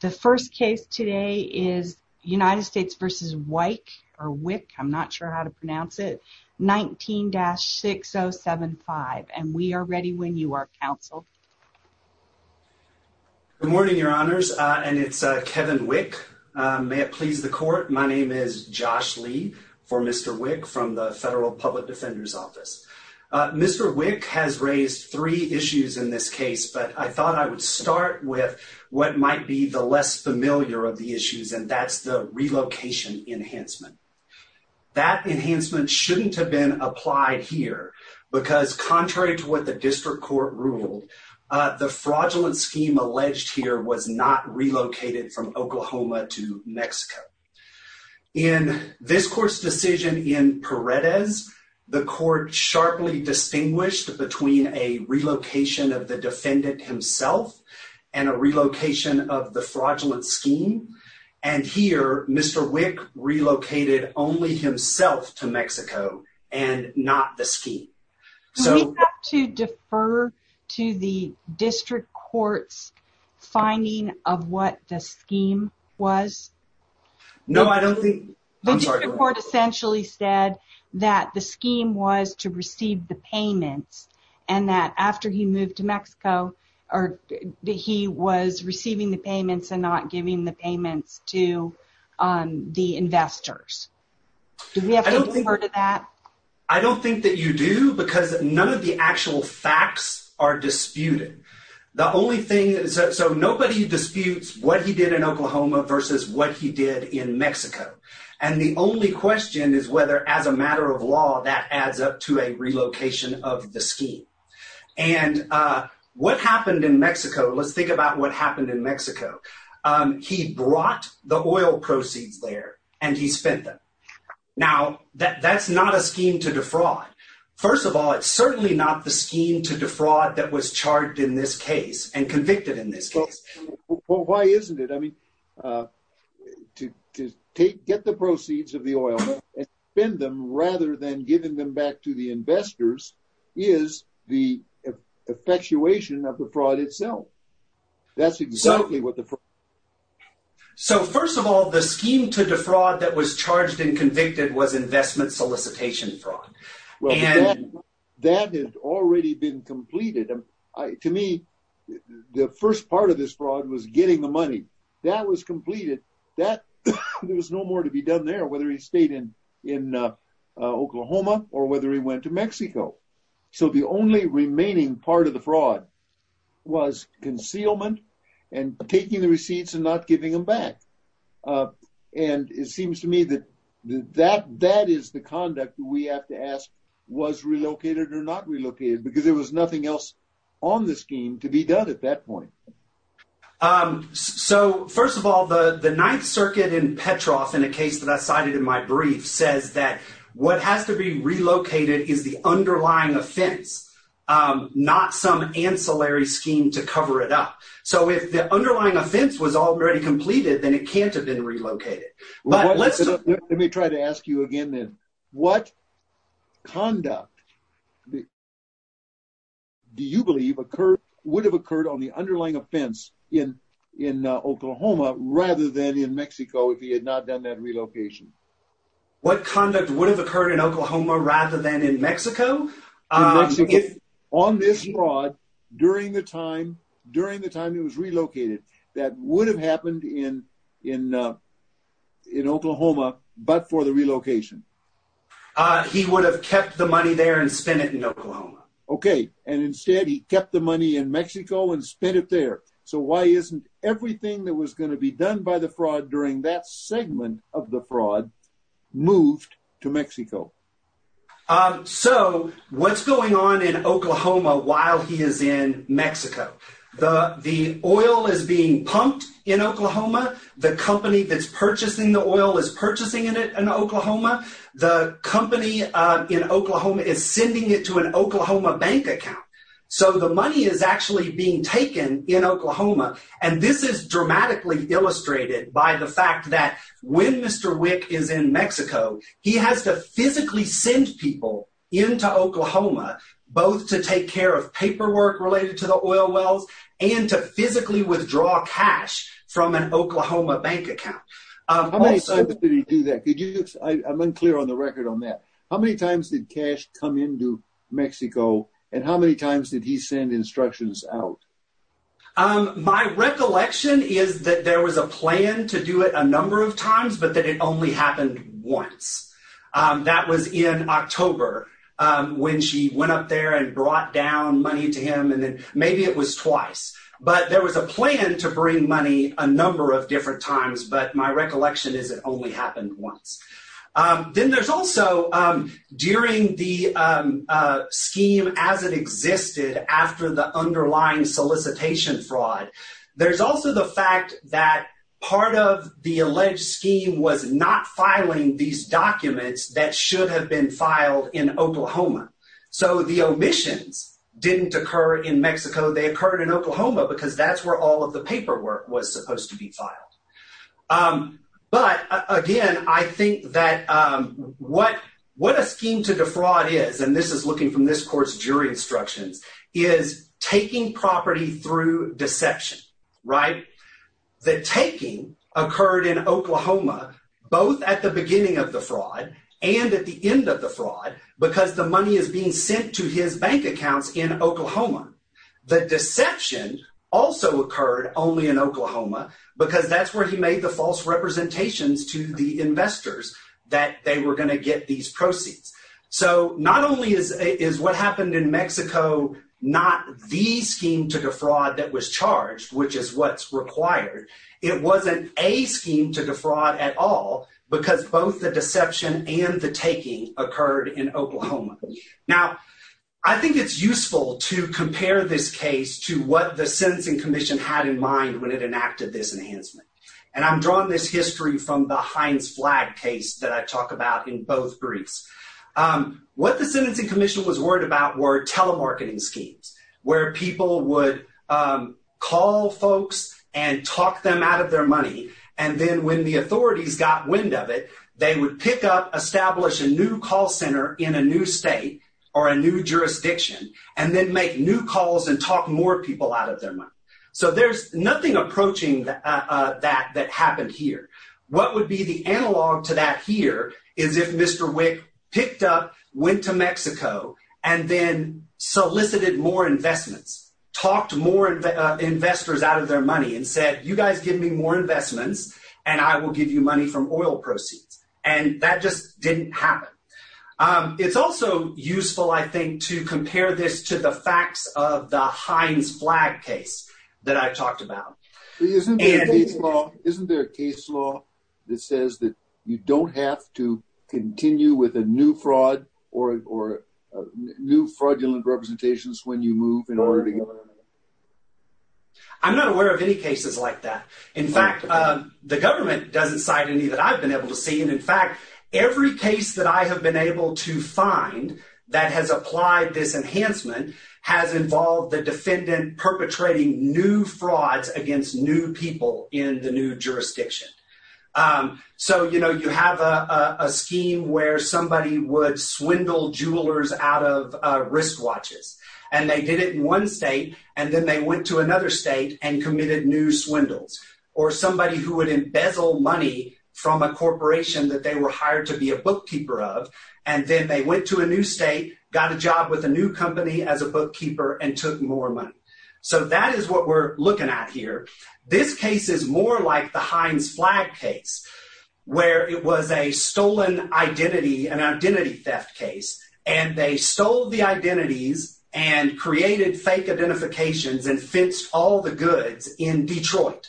The first case today is United States v. Wieck, 19-6075, and we are ready when you are, counsel. Good morning, your honors, and it's Kevin Wieck. May it please the court, my name is Josh Lee, for Mr. Wieck, from the Federal Public Defender's Office. Mr. Wieck has raised three issues in this case, but I thought I would start with what might be the less familiar of the issues, and that's the relocation enhancement. That enhancement shouldn't have been applied here, because contrary to what the district court ruled, the fraudulent scheme alleged here was not relocated from Oklahoma to Mexico. In this court's decision in Paredes, the court sharply distinguished between a relocation of the defendant himself and a relocation of the fraudulent scheme, and here Mr. Wieck relocated only himself to Mexico and not the scheme. Do we have to defer to the district court's finding of what the scheme was? No, I don't think… The district court essentially said that the scheme was to receive the payments, and that after he moved to Mexico, he was receiving the payments and not giving the payments to the investors. Do we have to defer to that? I don't think that you do, because none of the actual facts are disputed. So nobody disputes what he did in Oklahoma versus what he did in Mexico, and the only question is whether, as a matter of law, that adds up to a relocation of the scheme. And what happened in Mexico, let's think about what happened in Mexico. He brought the oil proceeds there, and he spent them. Now, that's not a scheme to defraud. First of all, it's certainly not the scheme to defraud that was charged in this case and convicted in this case. Well, why isn't it? I mean, to get the proceeds of the oil and spend them rather than giving them back to the investors is the effectuation of the fraud itself. That's exactly what the fraud is. So, first of all, the scheme to defraud that was charged and convicted was investment solicitation fraud. Well, that had already been completed. To me, the first part of this fraud was getting the money. That was completed. There was no more to be done there, whether he stayed in Oklahoma or whether he went to Mexico. So, the only remaining part of the fraud was concealment and taking the receipts and not giving them back. And it seems to me that that is the conduct we have to ask was relocated or not relocated, because there was nothing else on the scheme to be done at that point. So, first of all, the Ninth Circuit in Petroff, in a case that I cited in my brief, says that what has to be relocated is the underlying offense, not some ancillary scheme to cover it up. So, if the underlying offense was already completed, then it can't have been relocated. Let me try to ask you again then. What conduct do you believe would have occurred on the underlying offense in Oklahoma rather than in Mexico if he had not done that relocation? What conduct would have occurred in Oklahoma rather than in Mexico? On this fraud, during the time it was relocated, that would have happened in Oklahoma but for the relocation? He would have kept the money there and spent it in Oklahoma. Okay. And instead, he kept the money in Mexico and spent it there. So, why isn't everything that was going to be done by the fraud during that segment of the fraud moved to Mexico? So, what's going on in Oklahoma while he is in Mexico? The oil is being pumped in Oklahoma. The company that's purchasing the oil is purchasing it in Oklahoma. The company in Oklahoma is sending it to an Oklahoma bank account. So, the money is actually being taken in Oklahoma. And this is dramatically illustrated by the fact that when Mr. Wick is in Mexico, he has to physically send people into Oklahoma both to take care of paperwork related to the oil wells and to physically withdraw cash from an Oklahoma bank account. How many times did he do that? I'm unclear on the record on that. How many times did cash come into Mexico and how many times did he send instructions out? My recollection is that there was a plan to do it a number of times, but that it only happened once. That was in October when she went up there and brought down money to him and then maybe it was twice. But there was a plan to bring money a number of different times, but my recollection is it only happened once. Then there's also during the scheme as it existed after the underlying solicitation fraud, there's also the fact that part of the alleged scheme was not filing these documents that should have been filed in Oklahoma. So, the omissions didn't occur in Mexico. They occurred in Oklahoma because that's where all of the paperwork was supposed to be filed. But, again, I think that what a scheme to defraud is, and this is looking from this court's jury instructions, is taking property through deception. The taking occurred in Oklahoma both at the beginning of the fraud and at the end of the fraud because the money is being sent to his bank accounts in Oklahoma. The deception also occurred only in Oklahoma because that's where he made the false representations to the investors that they were going to get these proceeds. So, not only is what happened in Mexico not the scheme to defraud that was charged, which is what's required, it wasn't a scheme to defraud at all because both the deception and the taking occurred in Oklahoma. Now, I think it's useful to compare this case to what the Sentencing Commission had in mind when it enacted this enhancement. And I'm drawing this history from the Heinz flag case that I talk about in both briefs. What the Sentencing Commission was worried about were telemarketing schemes, where people would call folks and talk them out of their money. And then when the authorities got wind of it, they would pick up, establish a new call center in a new state or a new jurisdiction, and then make new calls and talk more people out of their money. So there's nothing approaching that that happened here. What would be the analog to that here is if Mr. Wick picked up, went to Mexico, and then solicited more investments, talked more investors out of their money, and said, you guys give me more investments, and I will give you money from oil proceeds. And that just didn't happen. It's also useful, I think, to compare this to the facts of the Heinz flag case that I talked about. Isn't there a case law that says that you don't have to continue with a new fraud or new fraudulent representations when you move in order to get money? I'm not aware of any cases like that. In fact, the government doesn't cite any that I've been able to see. And in fact, every case that I have been able to find that has applied this enhancement has involved the defendant perpetrating new frauds against new people in the new jurisdiction. So you have a scheme where somebody would swindle jewelers out of wristwatches. And they did it in one state, and then they went to another state and committed new swindles. Or somebody who would embezzle money from a corporation that they were hired to be a bookkeeper of, and then they went to a new state, got a job with a new company as a bookkeeper, and took more money. So that is what we're looking at here. This case is more like the Heinz flag case, where it was a stolen identity, an identity theft case, and they stole the identities and created fake identifications and fenced all the goods in Detroit.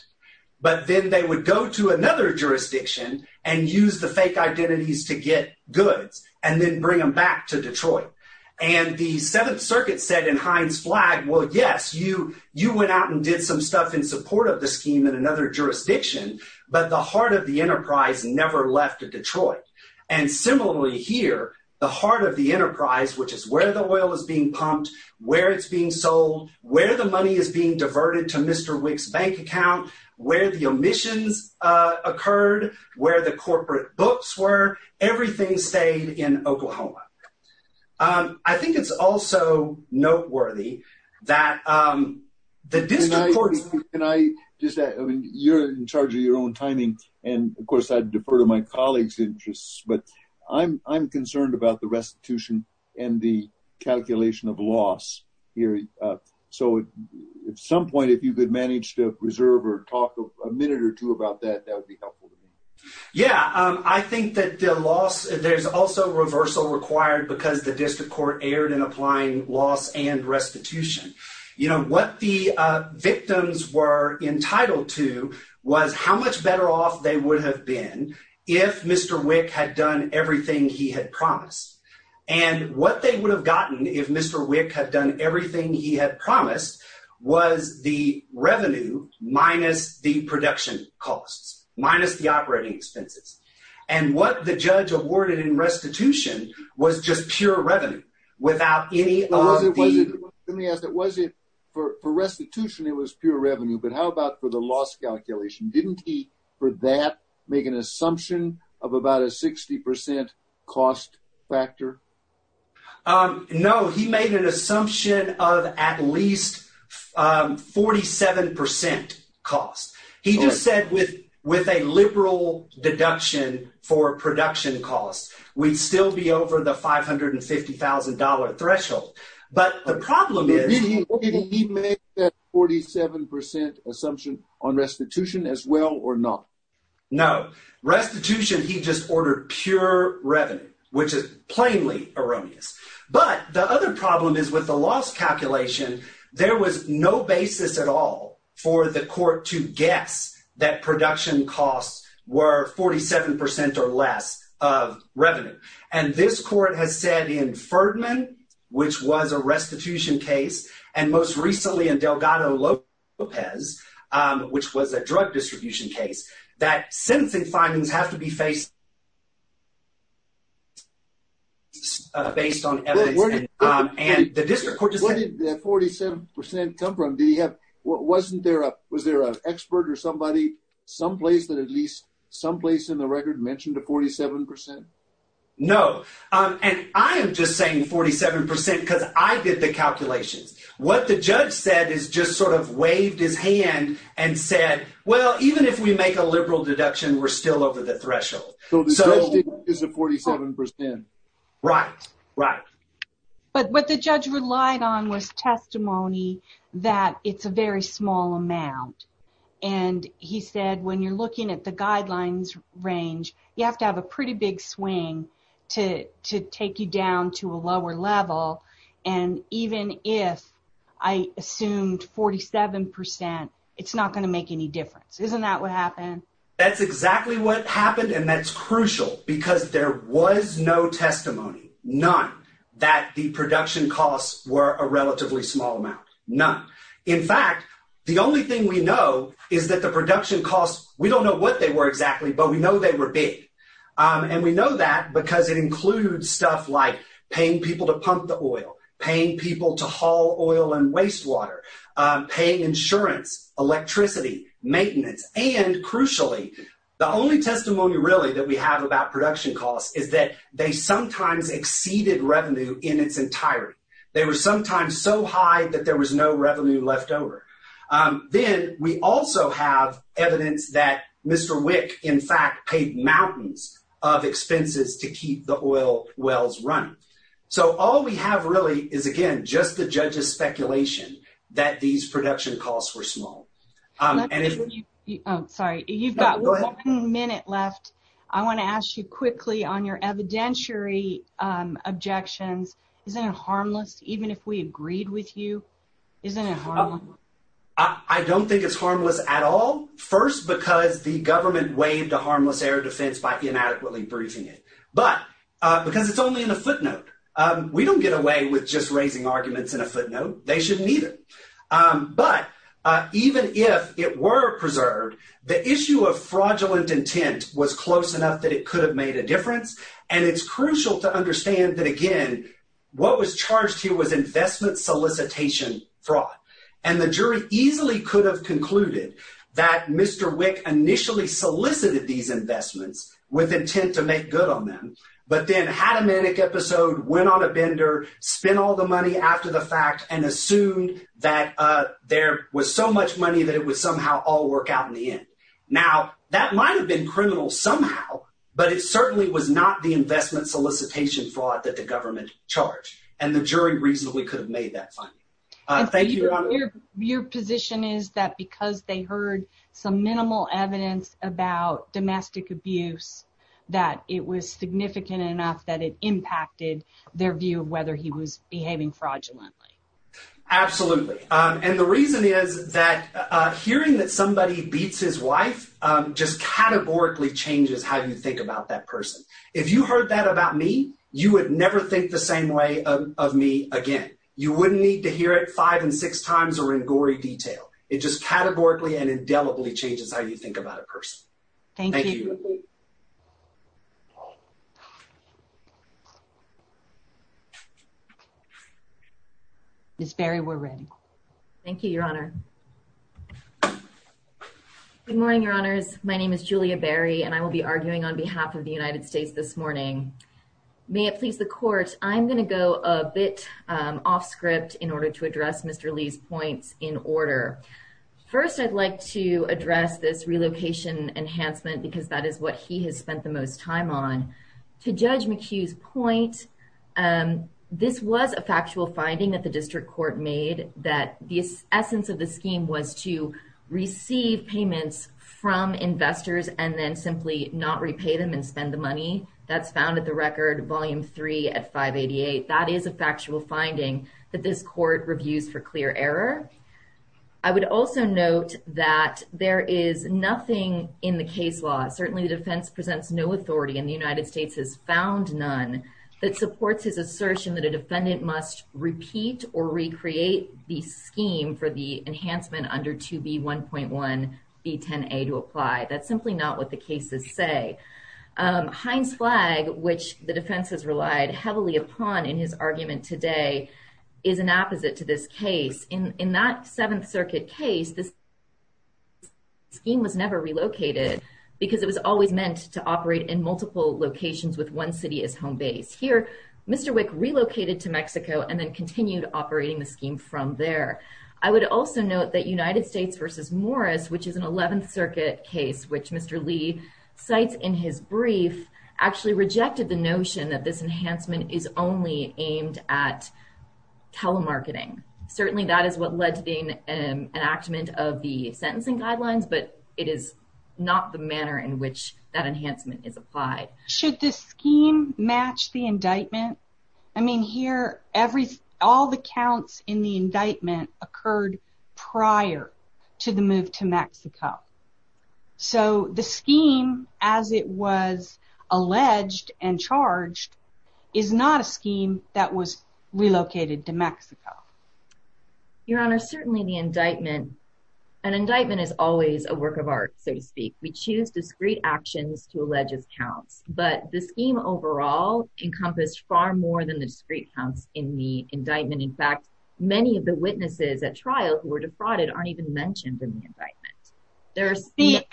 But then they would go to another jurisdiction and use the fake identities to get goods and then bring them back to Detroit. And the Seventh Circuit said in Heinz flag, well, yes, you went out and did some stuff in support of the scheme in another jurisdiction, but the heart of the enterprise never left Detroit. And similarly here, the heart of the enterprise, which is where the oil is being pumped, where it's being sold, where the money is being diverted to Mr. Wick's bank account, where the omissions occurred, where the corporate books were, everything stayed in Oklahoma. I think it's also noteworthy that the district courts— Can I just add, I mean, you're in charge of your own timing, and of course I defer to my colleagues' interests, but I'm concerned about the restitution and the calculation of loss here. So at some point, if you could manage to reserve or talk a minute or two about that, that would be helpful to me. Yeah, I think that there's also reversal required because the district court erred in applying loss and restitution. You know, what the victims were entitled to was how much better off they would have been if Mr. Wick had done everything he had promised. And what they would have gotten if Mr. Wick had done everything he had promised was the revenue minus the production costs, minus the operating expenses. And what the judge awarded in restitution was just pure revenue without any of the— No, he made an assumption of at least 47 percent cost. He just said with a liberal deduction for production costs, we'd still be over the $550,000 threshold. But the problem is— Did he make that 47 percent assumption on restitution as well or not? No. Restitution, he just ordered pure revenue, which is plainly erroneous. But the other problem is with the loss calculation, there was no basis at all for the court to guess that production costs were 47 percent or less of revenue. And this court has said in Ferdman, which was a restitution case, and most recently in Delgado-Lopez, which was a drug distribution case, that sentencing findings have to be based on evidence. Where did that 47 percent come from? Was there an expert or somebody someplace that at least someplace in the record mentioned a 47 percent? No. And I am just saying 47 percent because I did the calculations. What the judge said is just sort of waved his hand and said, well, even if we make a liberal deduction, we're still over the threshold. So the judge did not use the 47 percent. Right. Right. But what the judge relied on was testimony that it's a very small amount. And he said, when you're looking at the guidelines range, you have to have a pretty big swing to take you down to a lower level. And even if I assumed 47 percent, it's not going to make any difference. Isn't that what happened? That's exactly what happened. And that's crucial because there was no testimony, none that the production costs were a relatively small amount. None. In fact, the only thing we know is that the production costs, we don't know what they were exactly, but we know they were big. And we know that because it includes stuff like paying people to pump the oil, paying people to haul oil and wastewater, paying insurance, electricity, maintenance. And crucially, the only testimony really that we have about production costs is that they sometimes exceeded revenue in its entirety. They were sometimes so high that there was no revenue left over. Then we also have evidence that Mr. Wick, in fact, paid mountains of expenses to keep the oil wells running. So all we have really is, again, just the judge's speculation that these production costs were small. Sorry, you've got one minute left. I want to ask you quickly on your evidentiary objections. Isn't it harmless? Even if we agreed with you, isn't it? I don't think it's harmless at all. First, because the government waived a harmless air defense by inadequately briefing it. But because it's only in a footnote, we don't get away with just raising arguments in a footnote. They shouldn't either. But even if it were preserved, the issue of fraudulent intent was close enough that it could have made a difference. And it's crucial to understand that, again, what was charged here was investment solicitation fraud. And the jury easily could have concluded that Mr. Wick initially solicited these investments with intent to make good on them, but then had a manic episode, went on a bender, spent all the money after the fact, and assumed that there was so much money that it would somehow all work out in the end. Now, that might have been criminal somehow, but it certainly was not the investment solicitation fraud that the government charged. And the jury reasonably could have made that finding. Thank you, Your Honor. Your position is that because they heard some minimal evidence about domestic abuse, that it was significant enough that it impacted their view of whether he was behaving fraudulently. Absolutely. And the reason is that hearing that somebody beats his wife just categorically changes how you think about that person. If you heard that about me, you would never think the same way of me again. You wouldn't need to hear it five and six times or in gory detail. It just categorically and indelibly changes how you think about a person. Thank you. Ms. Berry, we're ready. Thank you, Your Honor. Good morning, Your Honors. My name is Julia Berry, and I will be arguing on behalf of the United States this morning. May it please the court. I'm going to go a bit off script in order to address Mr. Lee's points in order. First, I'd like to address this relocation enhancement because that is what he has spent the most time on. To Judge McHugh's point, this was a factual finding that the district court made that the essence of the scheme was to receive payments from investors and then simply not repay them and spend the money. That's found at the record, Volume 3 at 588. That is a factual finding that this court reviews for clear error. I would also note that there is nothing in the case law, certainly the defense presents no authority and the United States has found none, that supports his assertion that a defendant must repeat or recreate the scheme for the enhancement under 2B1.1B10A to apply. That's simply not what the cases say. Heinz Flagg, which the defense has relied heavily upon in his argument today, is an opposite to this case. In that Seventh Circuit case, this scheme was never relocated because it was always meant to operate in multiple locations with one city as home base. Here, Mr. Wick relocated to Mexico and then continued operating the scheme from there. I would also note that United States v. Morris, which is an Eleventh Circuit case, which Mr. Lee cites in his brief, actually rejected the notion that this enhancement is only aimed at telemarketing. Certainly, that is what led to the enactment of the sentencing guidelines, but it is not the manner in which that enhancement is applied. Should this scheme match the indictment? I mean, here, all the counts in the indictment occurred prior to the move to Mexico. So, the scheme, as it was alleged and charged, is not a scheme that was relocated to Mexico. Your Honor, certainly the indictment, an indictment is always a work of art, so to speak. We choose discrete actions to allege counts, but the scheme overall encompassed far more than the discrete counts in the indictment. In fact, many of the witnesses at trial who were defrauded aren't even mentioned in the indictment.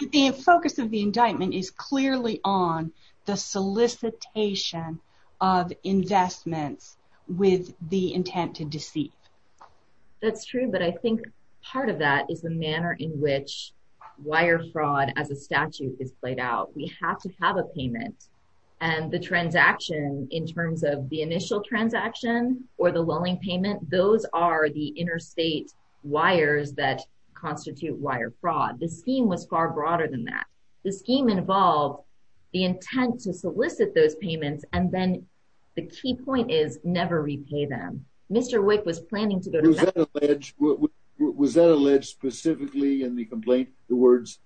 The focus of the indictment is clearly on the solicitation of investments with the intent to deceive. That's true, but I think part of that is the manner in which wire fraud as a statute is played out. We have to have a payment, and the transaction in terms of the initial transaction or the loaning payment, those are the interstate wires that constitute wire fraud. The scheme was far broader than that. The scheme involved the intent to solicit those payments, and then the key point is never repay them. Mr. Wick was planning to go to Mexico. Was that alleged specifically in the complaint, the words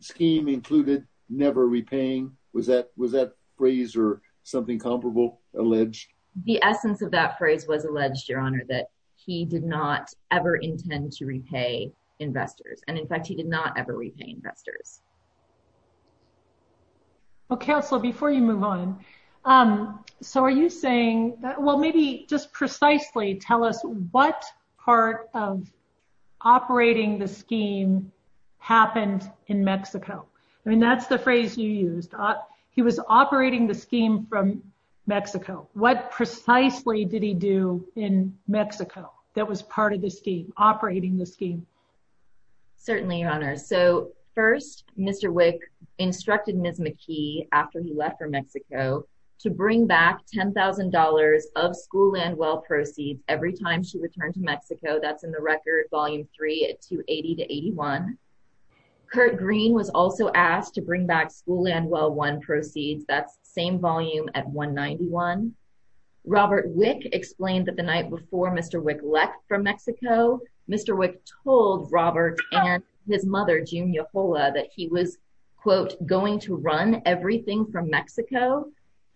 scheme included, never repaying? Was that phrase or something comparable alleged? The essence of that phrase was alleged, Your Honor, that he did not ever intend to repay investors, and in fact, he did not ever repay investors. Well, Counselor, before you move on, so are you saying, well, maybe just precisely tell us what part of operating the scheme happened in Mexico? I mean, that's the phrase you used. He was operating the scheme from Mexico. What precisely did he do in Mexico that was part of the scheme, operating the scheme? Certainly, Your Honor. So first, Mr. Wick instructed Ms. McKee, after he left for Mexico, to bring back $10,000 of school and well proceeds every time she returned to Mexico. That's in the record, Volume 3, 280-81. Kurt Green was also asked to bring back school and well proceeds. That's the same volume at 191. Robert Wick explained that the night before Mr. Wick left from Mexico, Mr. Wick told Robert and his mother, June Yajola, that he was, quote, going to run everything from Mexico.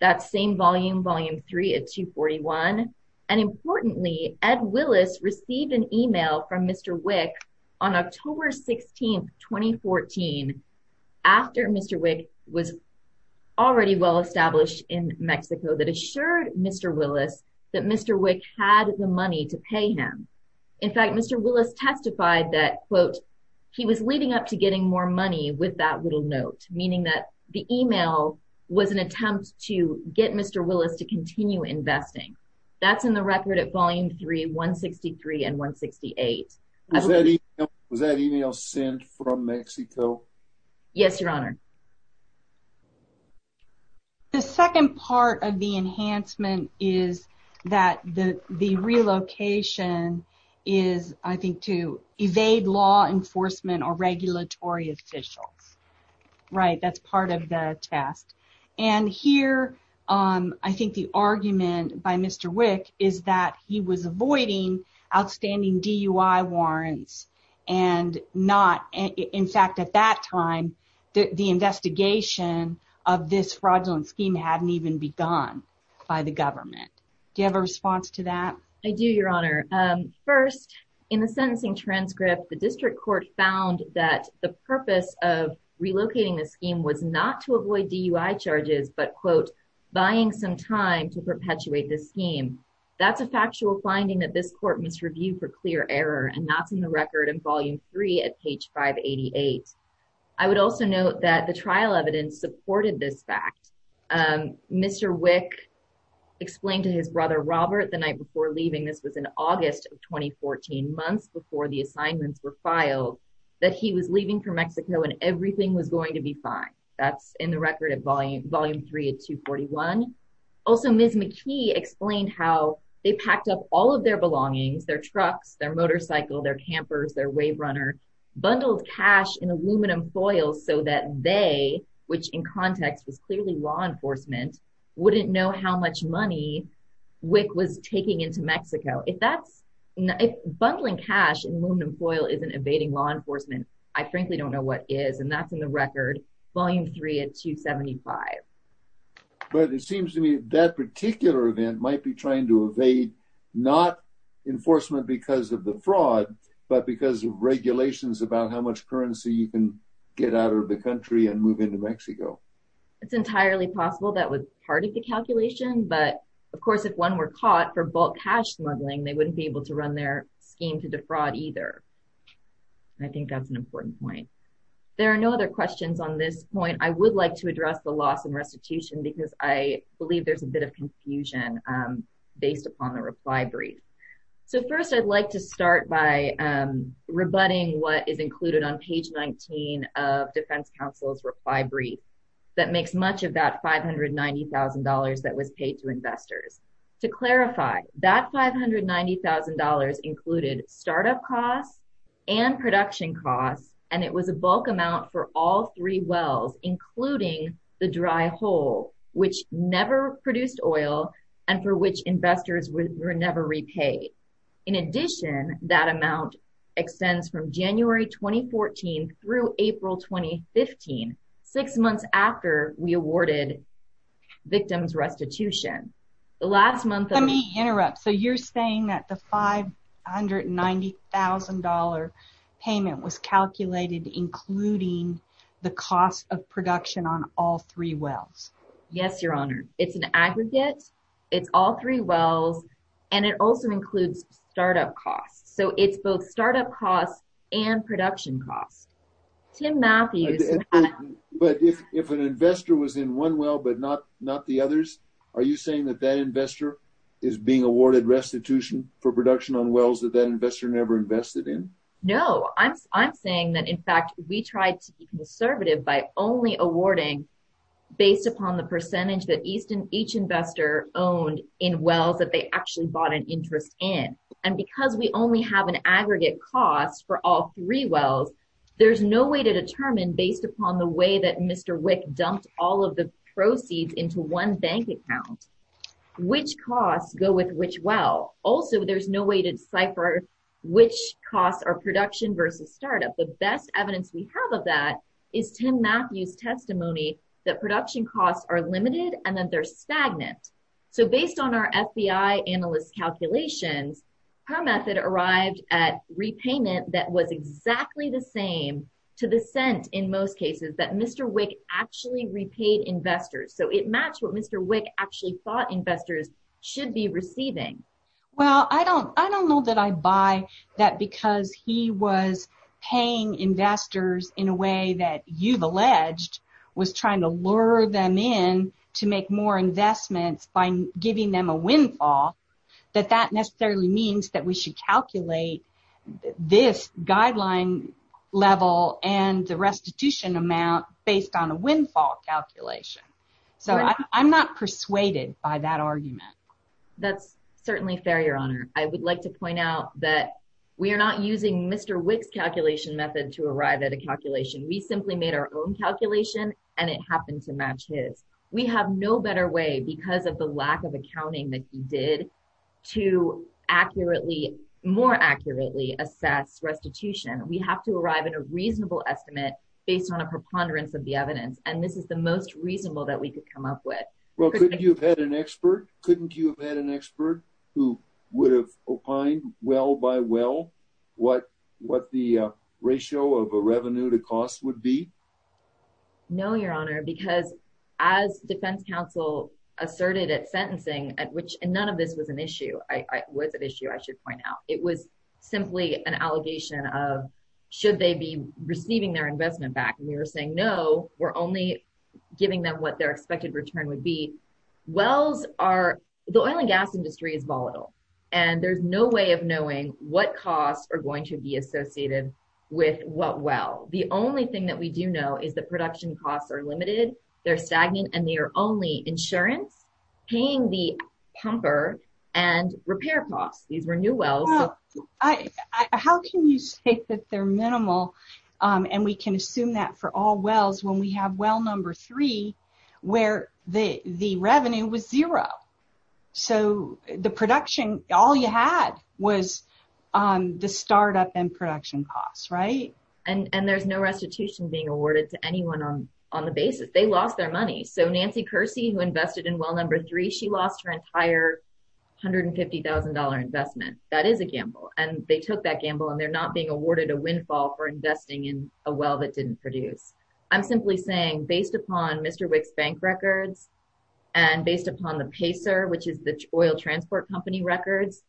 That's same volume, Volume 3 at 241. And importantly, Ed Willis received an email from Mr. Wick on October 16, 2014, after Mr. Wick was already well established in Mexico, that assured Mr. Willis that Mr. Wick had the money to pay him. In fact, Mr. Willis testified that, quote, he was leading up to getting more money with that little note, meaning that the email was an attempt to get Mr. Willis to continue investing. That's in the record at Volume 3, 163 and 168. Was that email sent from Mexico? Yes, Your Honor. The second part of the enhancement is that the relocation is, I think, to evade law enforcement or regulatory officials. Right, that's part of the test. And here, I think the argument by Mr. Wick is that he was avoiding outstanding DUI warrants and not, in fact, at that time, the investigation of this fraudulent scheme hadn't even begun by the government. Do you have a response to that? I do, Your Honor. First, in the sentencing transcript, the district court found that the purpose of relocating the scheme was not to avoid DUI charges, but, quote, buying some time to perpetuate the scheme. That's a factual finding that this court must review for clear error, and that's in the record in Volume 3 at page 588. I would also note that the trial evidence supported this fact. Mr. Wick explained to his brother, Robert, the night before leaving, this was in August of 2014, months before the assignments were filed, that he was leaving for Mexico and everything was going to be fine. That's in the record at Volume 3 at 241. Also, Ms. McKee explained how they packed up all of their belongings, their trucks, their motorcycle, their campers, their WaveRunner, bundled cash in aluminum foil so that they, which in context was clearly law enforcement, wouldn't know how much money Wick was taking into Mexico. If bundling cash in aluminum foil isn't evading law enforcement, I frankly don't know what is, and that's in the record, Volume 3 at 275. But it seems to me that particular event might be trying to evade not enforcement because of the fraud, but because of regulations about how much currency you can get out of the country and move into Mexico. It's entirely possible that was part of the calculation, but, of course, if one were caught for bulk cash bundling, they wouldn't be able to run their scheme to defraud either. I think that's an important point. There are no other questions on this point. I would like to address the loss in restitution because I believe there's a bit of confusion based upon the reply brief. So, first, I'd like to start by rebutting what is included on page 19 of Defense Counsel's reply brief that makes much of that $590,000 that was paid to investors. To clarify, that $590,000 included startup costs and production costs, and it was a bulk amount for all three wells, including the dry hole, which never produced oil and for which investors were never repaid. In addition, that amount extends from January 2014 through April 2015, six months after we awarded victims restitution. Let me interrupt. So, you're saying that the $590,000 payment was calculated including the cost of production on all three wells? Yes, Your Honor. It's an aggregate. It's all three wells, and it also includes startup costs. So, it's both startup costs and production costs. Tim Matthews. But if an investor was in one well but not the others, are you saying that that investor is being awarded restitution for production on wells that that investor never invested in? No. I'm saying that, in fact, we tried to be conservative by only awarding based upon the percentage that each investor owned in wells that they actually bought an interest in. And because we only have an aggregate cost for all three wells, there's no way to determine based upon the way that Mr. Wick dumped all of the proceeds into one bank account which costs go with which well. Also, there's no way to decipher which costs are production versus startup. The best evidence we have of that is Tim Matthews' testimony that production costs are limited and that they're stagnant. So, based on our FBI analyst's calculations, her method arrived at repayment that was exactly the same to the cent in most cases that Mr. Wick actually repaid investors. So, it matched what Mr. Wick actually thought investors should be receiving. Well, I don't know that I buy that because he was paying investors in a way that you've alleged was trying to lure them in to make more investments by giving them a windfall, that that necessarily means that we should calculate this guideline level and the restitution amount based on a windfall calculation. So, I'm not persuaded by that argument. That's certainly fair, Your Honor. I would like to point out that we are not using Mr. Wick's calculation method to arrive at a calculation. We simply made our own calculation and it happened to match his. We have no better way because of the lack of accounting that he did to accurately, more accurately assess restitution. We have to arrive at a reasonable estimate based on a preponderance of the evidence. And this is the most reasonable that we could come up with. Well, couldn't you have had an expert? Couldn't you have had an expert who would have opined well by well what the ratio of a revenue to cost would be? No, Your Honor, because as defense counsel asserted at sentencing at which none of this was an issue. It was an issue, I should point out. It was simply an allegation of should they be receiving their investment back? And we were saying no, we're only giving them what their expected return would be. Wells are, the oil and gas industry is volatile and there's no way of knowing what costs are going to be associated with what well. The only thing that we do know is the production costs are limited. They're stagnant and they are only insurance, paying the pumper and repair costs. These were new wells. How can you say that they're minimal and we can assume that for all wells when we have well number three where the revenue was zero? So the production, all you had was the startup and production costs, right? And there's no restitution being awarded to anyone on the basis. They lost their money. So Nancy Kersey who invested in well number three, she lost her entire $150,000 investment. That is a gamble. And they took that gamble and they're not being awarded a windfall for investing in a well that didn't produce. I'm simply saying based upon Mr. Wick's bank records and based upon the PACER, which is the oil transport company records,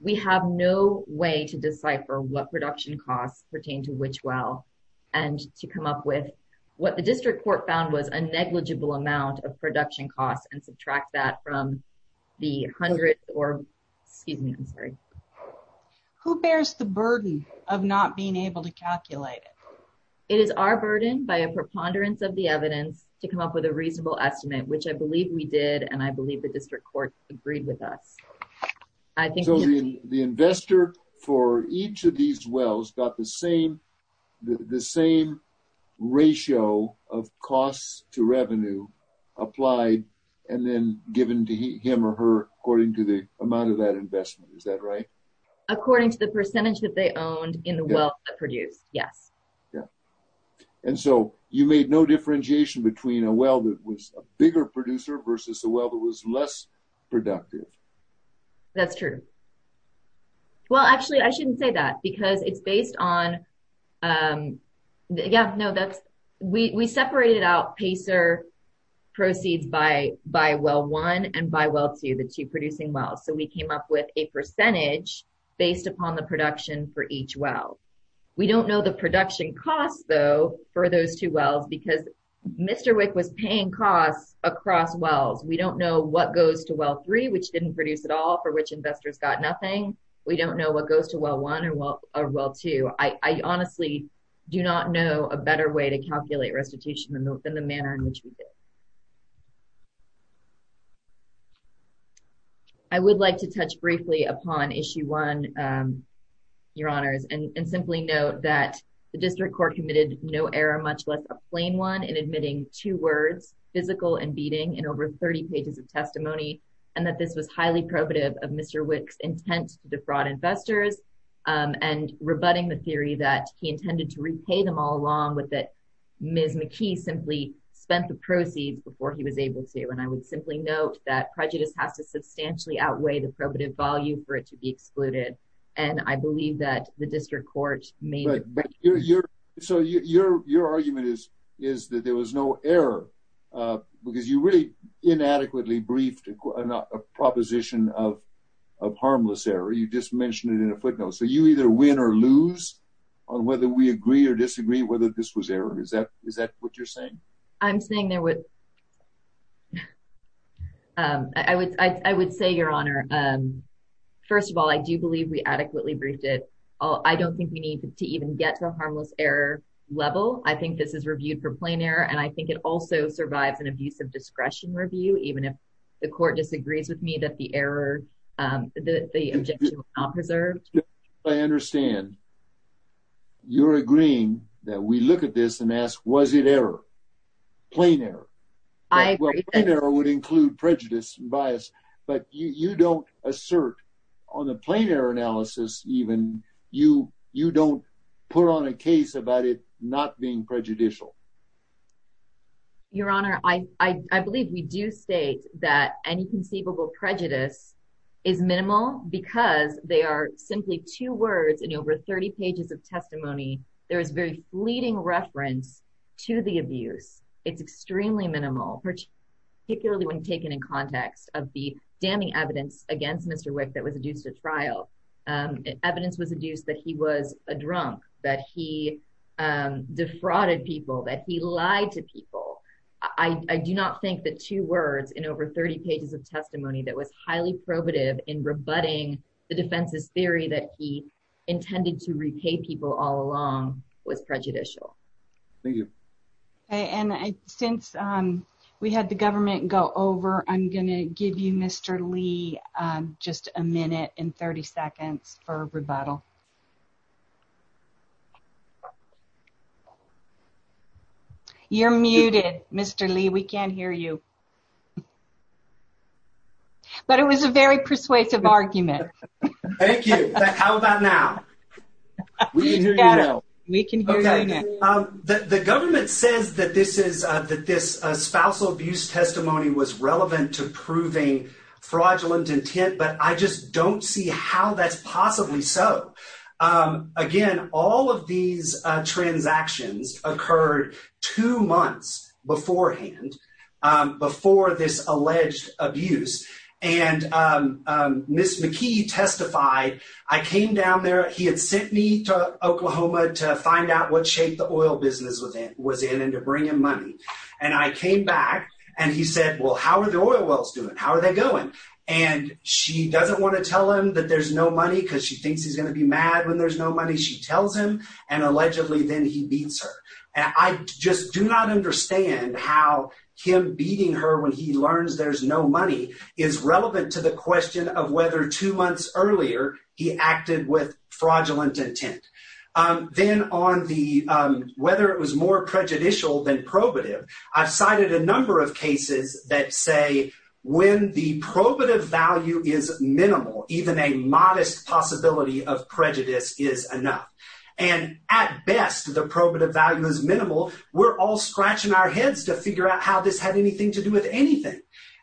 we have no way to decipher what production costs pertain to which well and to come up with. What the district court found was a negligible amount of production costs and subtract that from the hundred or, excuse me, I'm sorry. Who bears the burden of not being able to calculate it? It is our burden by a preponderance of the evidence to come up with a reasonable estimate, which I believe we did. And I believe the district court agreed with us. So the investor for each of these wells got the same ratio of costs to revenue applied and then given to him or her according to the amount of that investment. Is that right? According to the percentage that they owned in the well that produced, yes. And so you made no differentiation between a well that was a bigger producer versus a well that was less productive. That's true. Well, actually, I shouldn't say that because it's based on. We separated out PACER proceeds by well one and by well two, the two producing wells. So we came up with a percentage based upon the production for each well. We don't know the production costs, though, for those two wells because Mr. Wick was paying costs across wells. We don't know what goes to well three, which didn't produce at all for which investors got nothing. We don't know what goes to well one or well two. I honestly do not know a better way to calculate restitution than the manner in which we did. I would like to touch briefly upon issue one, your honors, and simply note that the district court committed no error, much less a plain one in admitting two words, physical and beating in over 30 pages of testimony, and that this was highly probative of Mr. Wick's intent to defraud investors and rebutting the theory that he intended to repay them all along with it. Ms. McKee simply spent the proceeds before he was able to. And I would simply note that prejudice has to substantially outweigh the probative value for it to be excluded. And I believe that the district court made. So your argument is that there was no error because you really inadequately briefed a proposition of harmless error. You just mentioned it in a footnote. So you either win or lose on whether we agree or disagree, whether this was error. Is that is that what you're saying? I'm saying there was. I would I would say, your honor, first of all, I do believe we adequately briefed it. I don't think we need to even get to a harmless error level. I think this is reviewed for plain error. And I think it also survives an abuse of discretion review, even if the court disagrees with me that the error, the objection was not preserved. I understand. You're agreeing that we look at this and ask, was it error? Plain error? I would include prejudice bias, but you don't assert on the plain error analysis. Even you, you don't put on a case about it not being prejudicial. Your honor, I believe we do state that any conceivable prejudice is minimal because they are simply two words in over 30 pages of testimony. There is very fleeting reference to the abuse. It's extremely minimal, particularly when taken in context of the damning evidence against Mr. Wick that was adduced at trial. Evidence was adduced that he was a drunk, that he defrauded people, that he lied to people. I do not think that two words in over 30 pages of testimony that was highly probative in rebutting the defense's theory that he intended to repay people all along was prejudicial. Thank you. And since we had the government go over, I'm going to give you Mr. Lee, just a minute and 30 seconds for rebuttal. You're muted, Mr. Lee, we can't hear you. But it was a very persuasive argument. Thank you. How about now? We can hear you now. The government says that this spousal abuse testimony was relevant to proving fraudulent intent, but I just don't see how that's possibly so. Again, all of these transactions occurred two months beforehand, before this alleged abuse. And Ms. McKee testified, I came down there, he had sent me to Oklahoma to find out what shape the oil business was in and to bring him money. And I came back and he said, well, how are the oil wells doing? How are they going? And she doesn't want to tell him that there's no money because she thinks he's going to be mad when there's no money. She tells him and allegedly then he beats her. And I just do not understand how him beating her when he learns there's no money is relevant to the question of whether two months earlier he acted with fraudulent intent. Then on the whether it was more prejudicial than probative. I've cited a number of cases that say when the probative value is minimal, even a modest possibility of prejudice is enough. And at best, the probative value is minimal. We're all scratching our heads to figure out how this had anything to do with anything.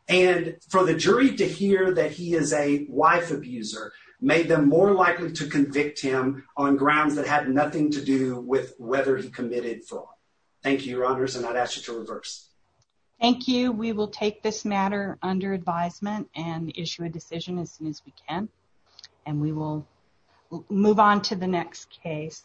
And for the jury to hear that he is a wife abuser made them more likely to convict him on grounds that had nothing to do with whether he committed fraud. Thank you, your honors. And I'd ask you to reverse. Thank you. We will take this matter under advisement and issue a decision as soon as we can. And we will move on to the next case.